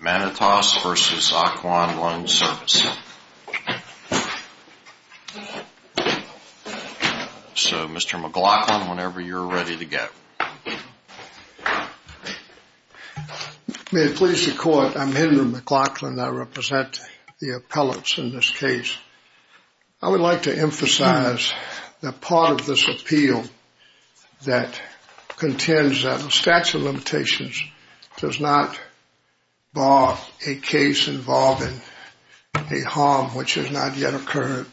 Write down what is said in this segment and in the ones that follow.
Manotas v. Ocwen Loan Servicing, LLC So, Mr. McLaughlin, whenever you're ready to go. May it please the court, I'm Henry McLaughlin, I represent the appellants in this case. I would like to emphasize that part of this appeal that contends that the statute of limitations does not bar a case involving a harm which has not yet occurred.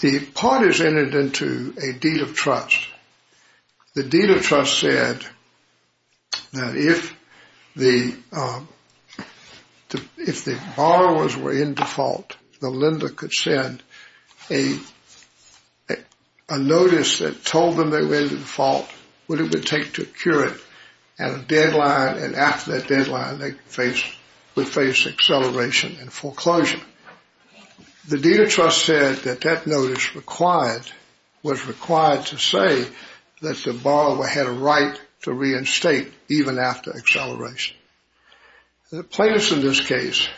The parties entered into a deed of trust. The deed of trust said that if the borrowers were in default, the lender could send a notice that told them they were in default, what it would take to cure it, and a deadline, and after that deadline, they would face acceleration and foreclosure. The deed of trust said that that notice was required to say that the borrower had a right to reinstate even after acceleration. The plaintiffs in this case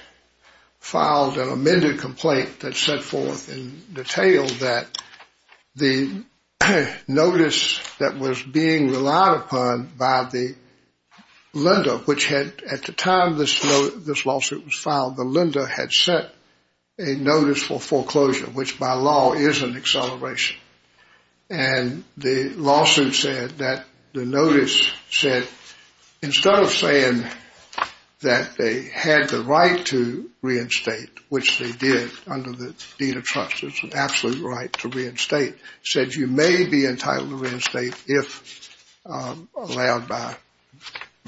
filed an amended complaint that set forth in detail that the notice that was being relied upon by the lender, which at the time this lawsuit was filed, the lender had sent a notice for foreclosure, which by law is an acceleration. And the lawsuit said that the notice said instead of saying that they had the right to reinstate, which they did under the deed of trust, it's an absolute right to reinstate, said you may be entitled to reinstate if allowed by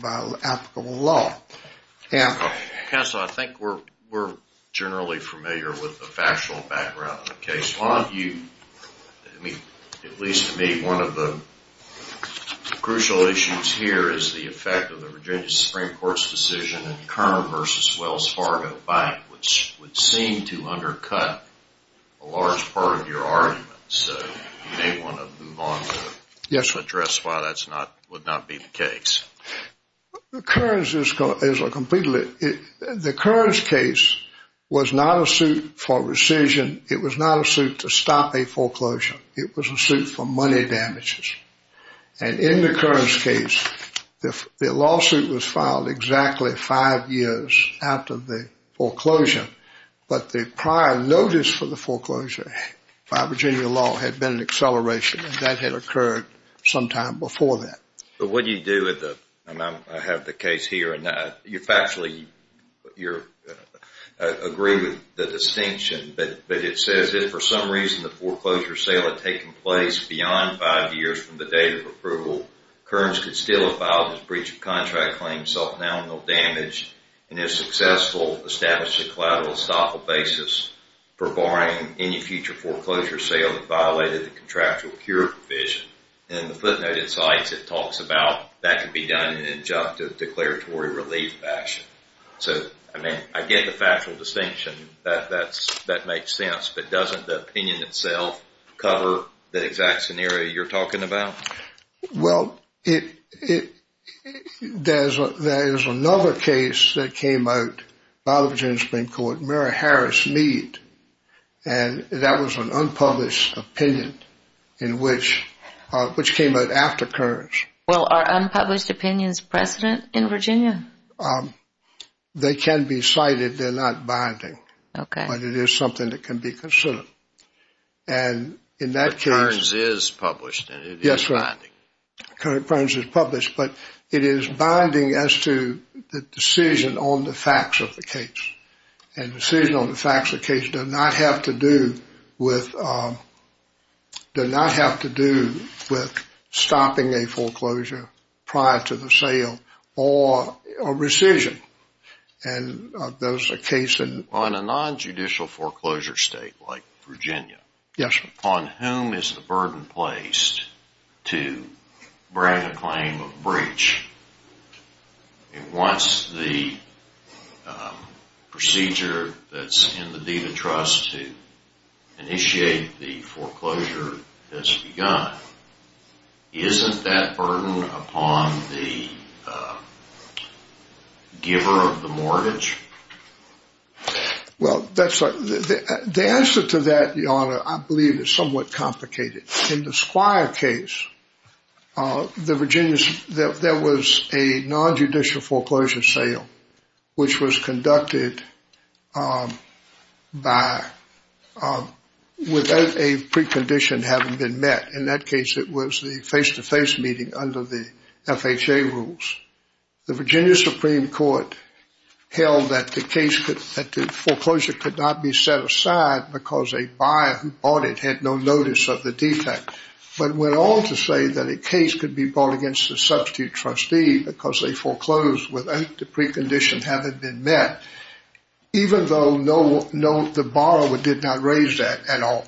applicable law. Counsel, I think we're generally familiar with the factual background of the case. At least to me, one of the crucial issues here is the effect of the Virginia Supreme Court's decision in Kerner v. Wells Fargo Bank, which would seem to undercut a large part of your argument. So you may want to move on to address why that would not be the case. The Kerner case was not a suit for rescission. It was not a suit to stop a foreclosure. It was a suit for money damages. And in the Kerner case, the lawsuit was filed exactly five years after the foreclosure, but the prior notice for the foreclosure by Virginia law had been an acceleration, and that had occurred sometime before that. But what do you do with the—and I have the case here, and you factually agree with the distinction, but it says that if for some reason the foreclosure sale had taken place beyond five years from the date of approval, Kerner could still have filed his breach of contract claim self-annulmental damage and if successful, established a collateral estoppel basis for barring any future foreclosure sale that violated the contractual cure provision. In the footnote it cites, it talks about that could be done in an injunctive declaratory relief action. So, I mean, I get the factual distinction. That makes sense. But doesn't the opinion itself cover the exact scenario you're talking about? Well, there is another case that came out, a lot of it has been called Mary Harris Mead, and that was an unpublished opinion in which—which came out after Kearns. Well, are unpublished opinions precedent in Virginia? They can be cited. They're not binding. Okay. But it is something that can be considered. And in that case— But Kearns is published, and it is binding. Yes, right. Kearns is published, but it is binding as to the decision on the facts of the case, and decision on the facts of the case does not have to do with— does not have to do with stopping a foreclosure prior to the sale or rescission. And those are cases— Well, in a nonjudicial foreclosure state like Virginia— Yes, sir. Upon whom is the burden placed to grant a claim of breach? Once the procedure that's in the Deed of Trust to initiate the foreclosure has begun, isn't that burden upon the giver of the mortgage? Well, that's right. The answer to that, Your Honor, I believe is somewhat complicated. In the Squire case, there was a nonjudicial foreclosure sale, which was conducted without a precondition having been met. In that case, it was the face-to-face meeting under the FHA rules. The Virginia Supreme Court held that the foreclosure could not be set aside because a buyer who bought it had no notice of the defect, but went on to say that a case could be brought against a substitute trustee because they foreclosed without the precondition having been met, even though the borrower did not raise that at all.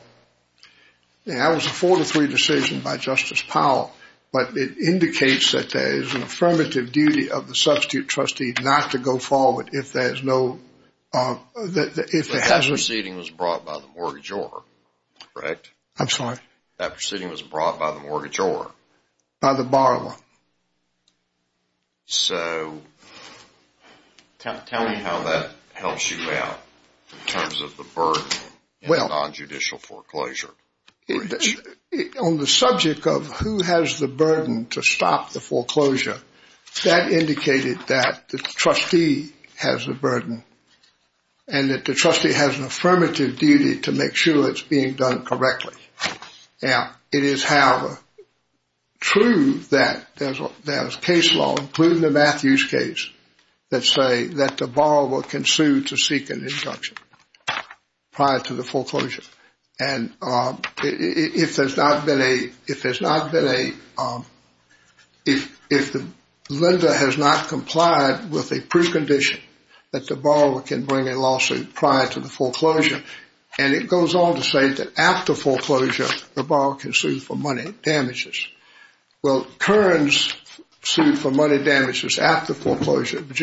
That was a 4-3 decision by Justice Powell, but it indicates that there is an affirmative duty of the substitute trustee not to go forward if there is no hazard. That proceeding was brought by the mortgagor, correct? I'm sorry? That proceeding was brought by the mortgagor? By the borrower. So tell me how that helps you out in terms of the burden and nonjudicial foreclosure. On the subject of who has the burden to stop the foreclosure, that indicated that the trustee has the burden and that the trustee has an affirmative duty to make sure it's being done correctly. Now, it is, however, true that there is case law, including the Matthews case, that say that the borrower can sue to seek an injunction prior to the foreclosure. And if the lender has not complied with a precondition, that the borrower can bring a lawsuit prior to the foreclosure. And it goes on to say that after foreclosure, the borrower can sue for money damages. Well, Kearns sued for money damages after foreclosure. The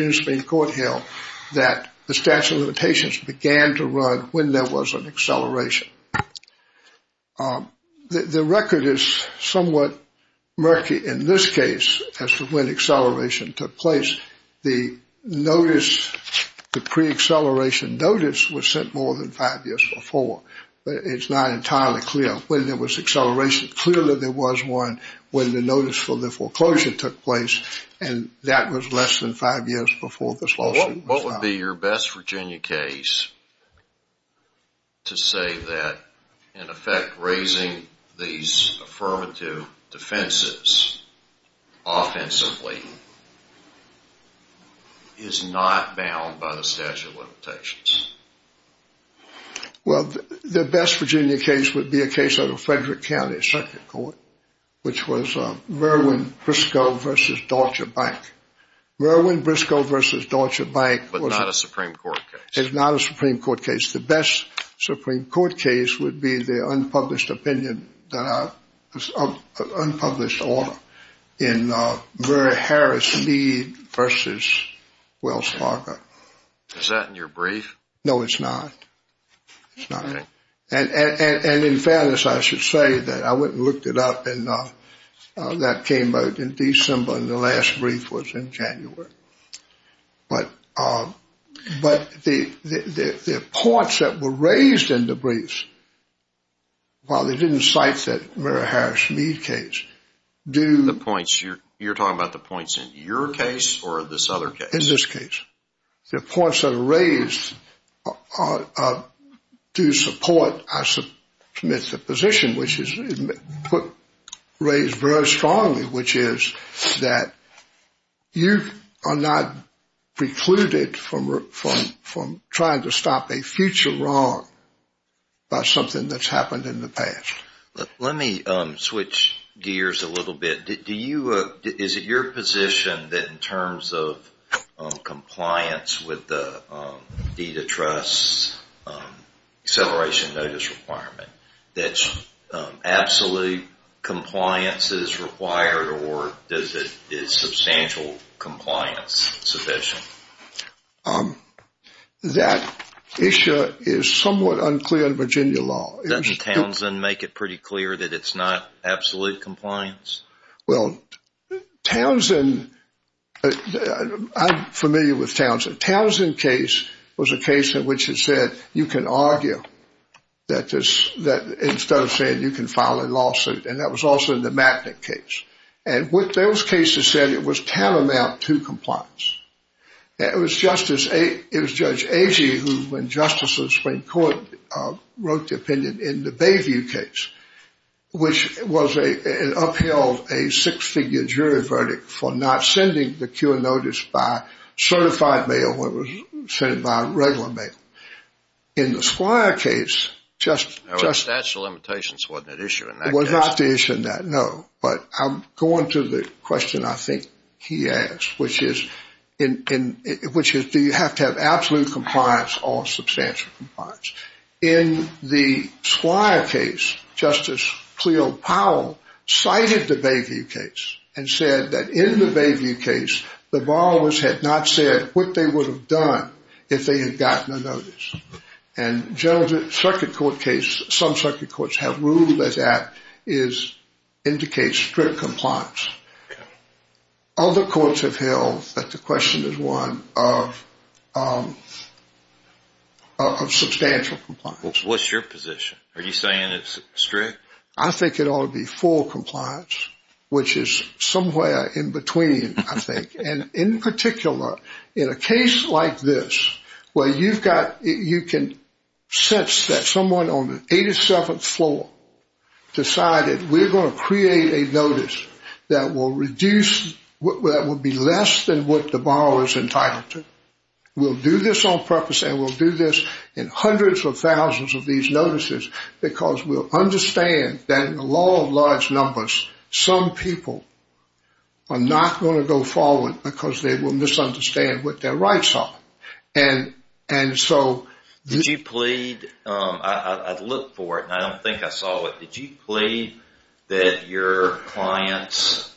statute of limitations began to run when there was an acceleration. The record is somewhat murky in this case as to when acceleration took place. The notice, the pre-acceleration notice, was sent more than five years before, but it's not entirely clear when there was acceleration. Clearly there was one when the notice for the foreclosure took place, and that was less than five years before this lawsuit was filed. What would be your best Virginia case to say that, in effect, raising these affirmative defenses offensively is not bound by the statute of limitations? Well, the best Virginia case would be a case out of Frederick County Circuit Court, which was Merwin Briscoe v. Dodger Bank. Merwin Briscoe v. Dodger Bank was- But not a Supreme Court case. Is not a Supreme Court case. The best Supreme Court case would be the unpublished opinion, the unpublished order in Murray Harris Meade v. Wells Fargo. Is that in your brief? No, it's not. It's not. And in fairness, I should say that I went and looked it up, and that came out in December, and the last brief was in January. But the points that were raised in the briefs, while they didn't cite the Murray Harris Meade case, do- The points? You're talking about the points in your case or this other case? In this case. The points that are raised do support, I submit, the position, which is raised very strongly, which is that you are not precluded from trying to stop a future wrong by something that's happened in the past. Let me switch gears a little bit. Is it your position that in terms of compliance with the DITA Trust's acceleration notice requirement, that absolute compliance is required, or is substantial compliance sufficient? That issue is somewhat unclear in Virginia law. Doesn't Townsend make it pretty clear that it's not absolute compliance? Well, Townsend, I'm familiar with Townsend. The Townsend case was a case in which it said you can argue that instead of saying you can file a lawsuit, and that was also in the Matnick case. And what those cases said, it was tantamount to compliance. It was Judge Agee who, in justice of the Supreme Court, wrote the opinion in the Bayview case, which upheld a six-figure jury verdict for not sending the cure notice by certified mail when it was sent by regular mail. In the Squire case, just – The statute of limitations wasn't an issue in that case. It was not the issue in that, no. But I'm going to the question I think he asked, which is, do you have to have absolute compliance or substantial compliance? In the Squire case, Justice Cleo Powell cited the Bayview case and said that in the Bayview case, the borrowers had not said what they would have done if they had gotten a notice. And the circuit court case, some circuit courts have ruled that that indicates strict compliance. Other courts have held that the question is one of substantial compliance. What's your position? Are you saying it's strict? I think it ought to be full compliance, which is somewhere in between, I think. And in particular, in a case like this where you've got – you can sense that someone on the 87th floor decided we're going to create a notice that will reduce – that will be less than what the borrower is entitled to. We'll do this on purpose and we'll do this in hundreds of thousands of these notices because we'll understand that in the law of large numbers, some people are not going to go forward because they will misunderstand what their rights are. And so – Did you plead – I looked for it and I don't think I saw it. Did you plead that your clients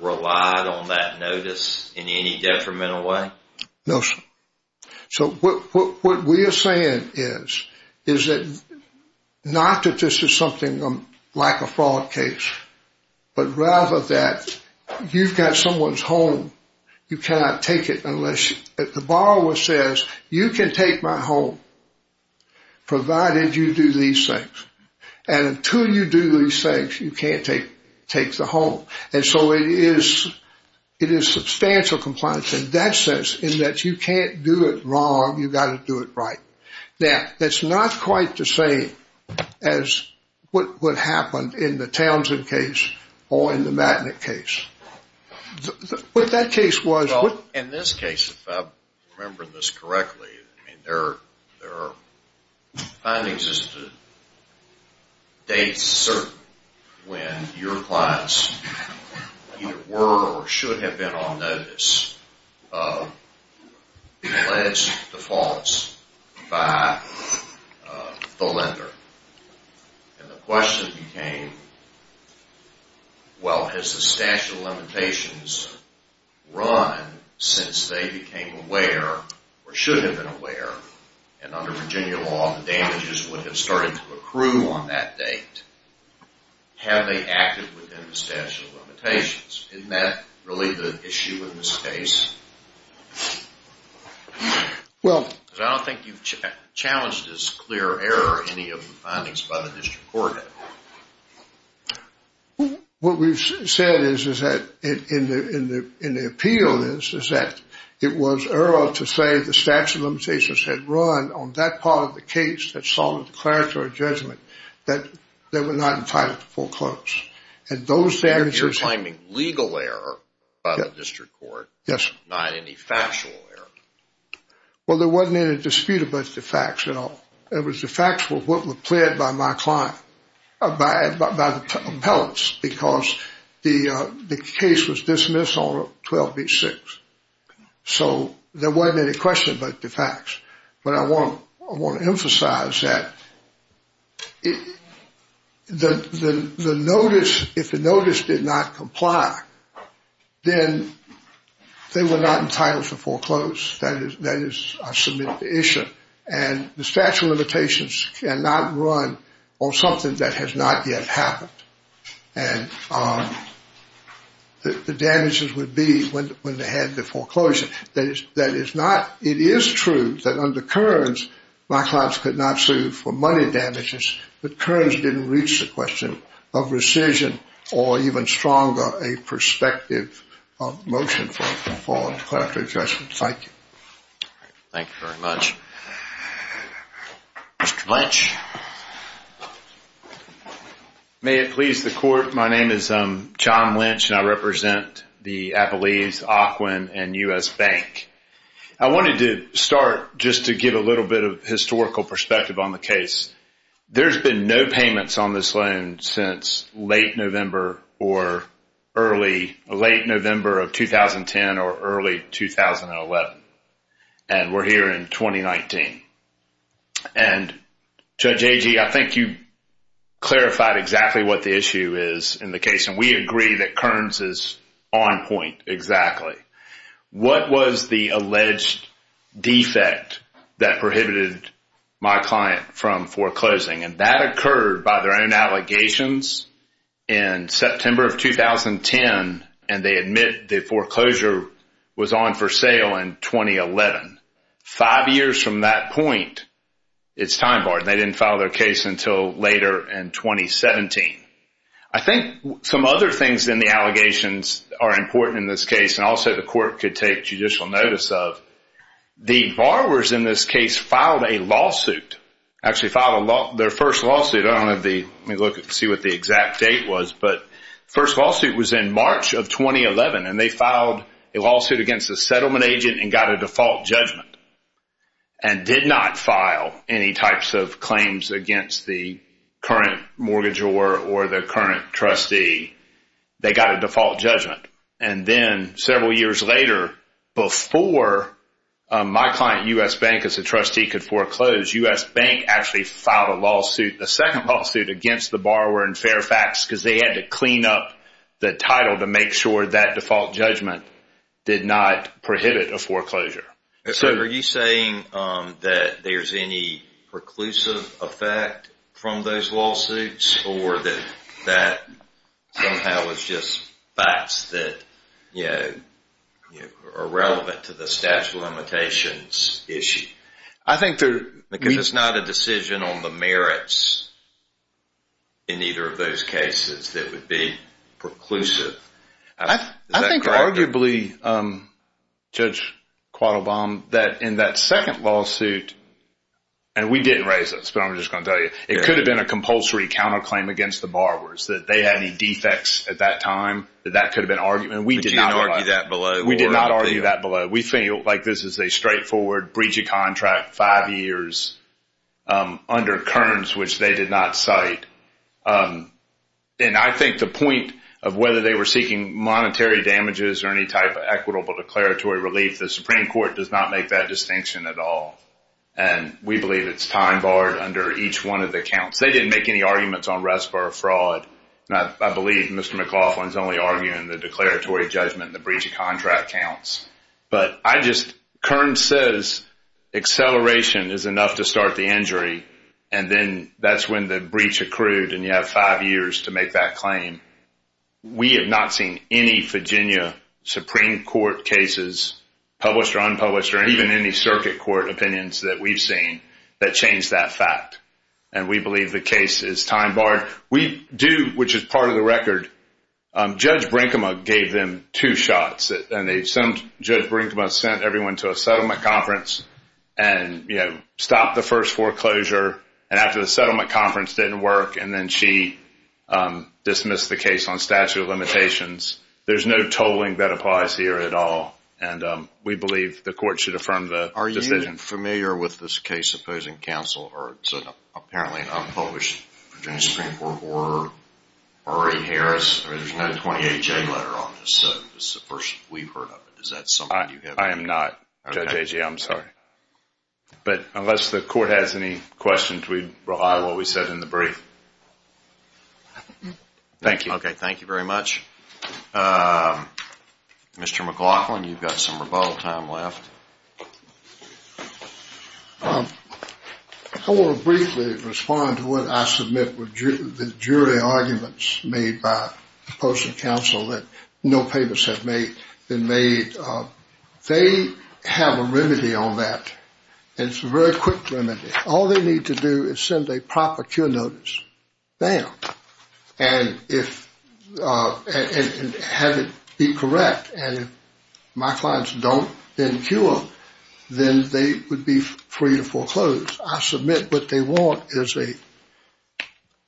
relied on that notice in any detrimental way? No, sir. So what we are saying is, is that not that this is something like a fraud case, but rather that you've got someone's home. You cannot take it unless – the borrower says, you can take my home provided you do these things. And until you do these things, you can't take the home. And so it is substantial compliance in that sense in that you can't do it wrong, you've got to do it right. Now, that's not quite the same as what happened in the Townsend case or in the Matanik case. What that case was – Well, in this case, if I'm remembering this correctly, I mean, there are findings as to dates certain when your clients either were or should have been on notice of alleged defaults by the lender. And the question became, well, has the statute of limitations run since they became aware or should have been aware? And under Virginia law, the damages would have started to accrue on that date. Have they acted within the statute of limitations? Isn't that really the issue in this case? Because I don't think you've challenged as clear error any of the findings by the district court. What we've said is that in the appeal is that it was early to say the statute of limitations had run on that part of the case that saw the declaratory judgment that they were not entitled to foreclose. And those damages – You're claiming legal error by the district court, not any factual error. Well, there wasn't any dispute about the facts at all. It was the facts that were pled by my client, by the appellants, because the case was dismissed on 12B6. So there wasn't any question about the facts. But I want to emphasize that the notice, if the notice did not comply, then they were not entitled to foreclose. That is, I submit the issue. And the statute of limitations cannot run on something that has not yet happened. And the damages would be when they had the foreclosure. That is not – It is true that under Kearns my clients could not sue for money damages, but Kearns didn't reach the question of rescission or even stronger a prospective motion for declaratory judgment. Thank you. Thank you very much. Mr. Lynch. May it please the court, my name is John Lynch and I represent the Appalachians, Aquin, and U.S. Bank. I wanted to start just to give a little bit of historical perspective on the case. There's been no payments on this loan since late November or early – and we're here in 2019. And Judge Agee, I think you clarified exactly what the issue is in the case, and we agree that Kearns is on point exactly. What was the alleged defect that prohibited my client from foreclosing? And that occurred by their own allegations in September of 2010, and they admit the foreclosure was on for sale in 2011. Five years from that point, it's time barred. They didn't file their case until later in 2017. I think some other things in the allegations are important in this case, and also the court could take judicial notice of. The borrowers in this case filed a lawsuit, actually filed their first lawsuit. I don't have the – let me look and see what the exact date was. But the first lawsuit was in March of 2011, and they filed a lawsuit against a settlement agent and got a default judgment and did not file any types of claims against the current mortgagor or the current trustee. They got a default judgment. And then several years later, before my client, U.S. Bank, as a trustee, could foreclose, U.S. Bank actually filed a lawsuit, the second lawsuit, against the borrower in Fairfax because they had to clean up the title to make sure that default judgment did not prohibit a foreclosure. So are you saying that there's any preclusive effect from those lawsuits or that that somehow is just facts that are relevant to the statute of limitations issue? Because it's not a decision on the merits in either of those cases that would be preclusive. Is that correct? I think arguably, Judge Quattlebaum, that in that second lawsuit, and we didn't raise this, but I'm just going to tell you, it could have been a compulsory counterclaim against the borrowers, that they had any defects at that time, that that could have been argued. But you didn't argue that below. We did not argue that below. We feel like this is a straightforward breach of contract, five years, under Kearns, which they did not cite. And I think the point of whether they were seeking monetary damages or any type of equitable declaratory relief, the Supreme Court does not make that distinction at all. And we believe it's time barred under each one of the accounts. They didn't make any arguments on RESPA or fraud. I believe Mr. McLaughlin is only arguing the declaratory judgment and the breach of contract counts. But Kearns says acceleration is enough to start the injury, and then that's when the breach accrued and you have five years to make that claim. We have not seen any Virginia Supreme Court cases, published or unpublished, or even any circuit court opinions that we've seen, that change that fact. And we believe the case is time barred. We do, which is part of the record, Judge Brinkema gave them two shots. And Judge Brinkema sent everyone to a settlement conference and stopped the first foreclosure. And after the settlement conference didn't work, and then she dismissed the case on statute of limitations. There's no tolling that applies here at all. And we believe the court should affirm the decision. I'm familiar with this case opposing counsel. It's apparently an unpublished Virginia Supreme Court order, Murray Harris. There's no 28J letter on this. This is the first we've heard of it. I am not, Judge Agee, I'm sorry. But unless the court has any questions, we rely on what we said in the brief. Thank you. Okay, thank you very much. Mr. McLaughlin, you've got some rebuttal time left. I want to briefly respond to what I submit with the jury arguments made by opposing counsel that no papers have been made. They have a remedy on that. It's a very quick remedy. All they need to do is send a proper cure notice. Bam. And have it be correct. And if my clients don't then cure them, then they would be free to foreclose. I submit what they want is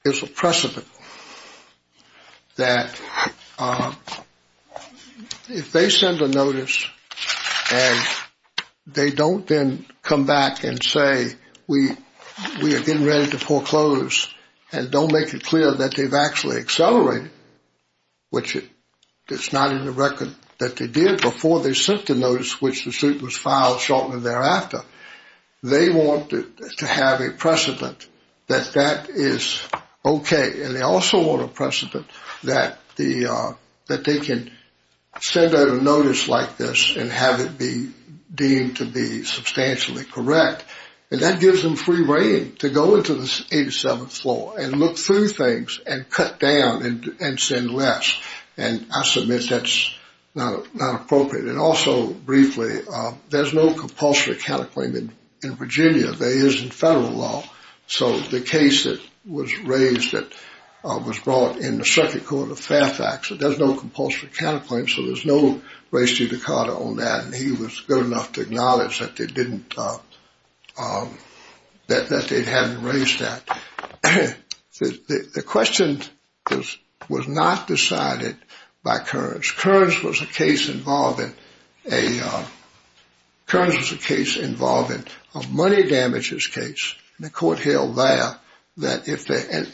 a precedent that if they send a notice and they don't then come back and say, we are getting ready to foreclose, and don't make it clear that they've actually accelerated, which it's not in the record that they did before they sent the notice, which the suit was filed shortly thereafter. They want to have a precedent that that is okay. And they also want a precedent that they can send out a notice like this and have it be deemed to be substantially correct. And that gives them free reign to go into the 87th floor and look through things and cut down and send less. And I submit that's not appropriate. And also, briefly, there's no compulsory counterclaim in Virginia. There is in federal law. So the case that was raised that was brought in the circuit court of Fairfax, there's no compulsory counterclaim, so there's no res judicata on that. And he was good enough to acknowledge that they didn't, that they hadn't raised that. The question was not decided by Kearns. Kearns was a case involving a money damages case, the court held there, and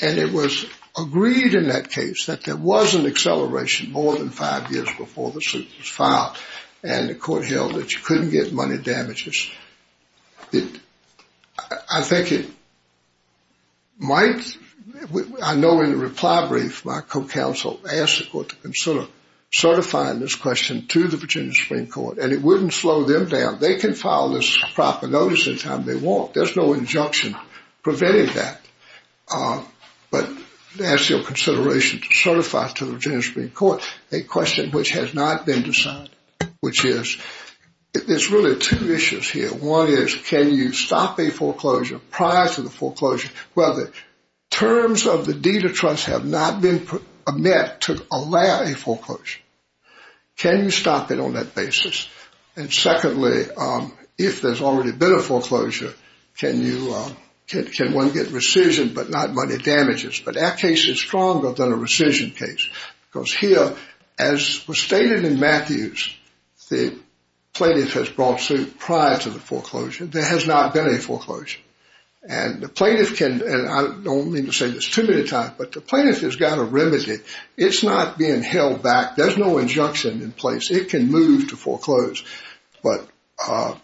it was agreed in that case that there was an acceleration more than five years before the suit was filed. And the court held that you couldn't get money damages. I think it might, I know in the reply brief my co-counsel asked the court to consider certifying this question to the Virginia Supreme Court, and it wouldn't slow them down. They can file this proper notice any time they want. There's no injunction preventing that. But to ask your consideration to certify it to the Virginia Supreme Court, a question which has not been decided, which is there's really two issues here. One is can you stop a foreclosure prior to the foreclosure? Well, the terms of the deed of trust have not been met to allow a foreclosure. Can you stop it on that basis? And secondly, if there's already been a foreclosure, can one get rescission but not money damages? But that case is stronger than a rescission case because here, as was stated in Matthews, the plaintiff has brought suit prior to the foreclosure. There has not been a foreclosure. And the plaintiff can, and I don't mean to say this too many times, but the plaintiff has got a remedy. It's not being held back. There's no injunction in place. It can move to foreclose, but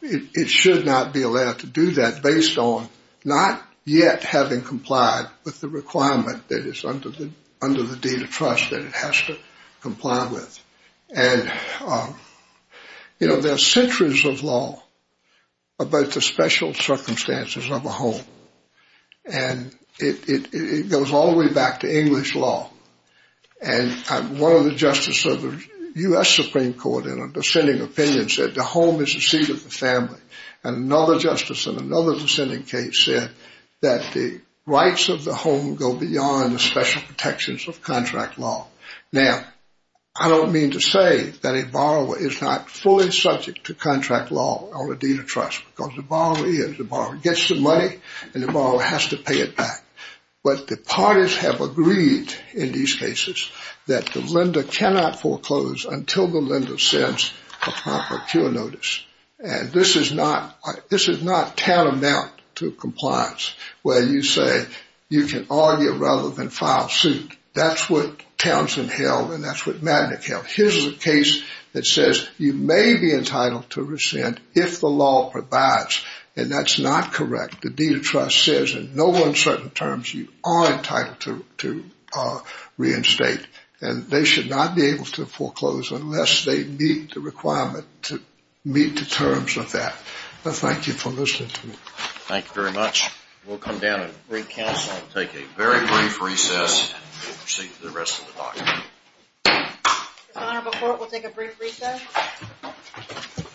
it should not be allowed to do that based on not yet having complied with the requirement that is under the deed of trust that it has to comply with. And, you know, there are centuries of law about the special circumstances of a home, and it goes all the way back to English law. And one of the justices of the U.S. Supreme Court in a dissenting opinion said the home is the seat of the family. And another justice in another dissenting case said that the rights of the home go beyond the special protections of contract law. Now, I don't mean to say that a borrower is not fully subject to contract law or a deed of trust because the borrower is. The borrower gets the money, and the borrower has to pay it back. But the parties have agreed in these cases that the lender cannot foreclose until the lender sends a proper appeal notice. And this is not tantamount to compliance where you say you can argue rather than file suit. That's what Townsend held, and that's what Magnick held. Here's a case that says you may be entitled to rescind if the law provides, and that's not correct. The deed of trust says in no uncertain terms you are entitled to reinstate, and they should not be able to foreclose unless they meet the requirement to meet the terms of that. Well, thank you for listening to me. Thank you very much. We'll come down and bring counsel and take a very brief recess. We'll proceed to the rest of the document. The Honorable Court will take a brief recess.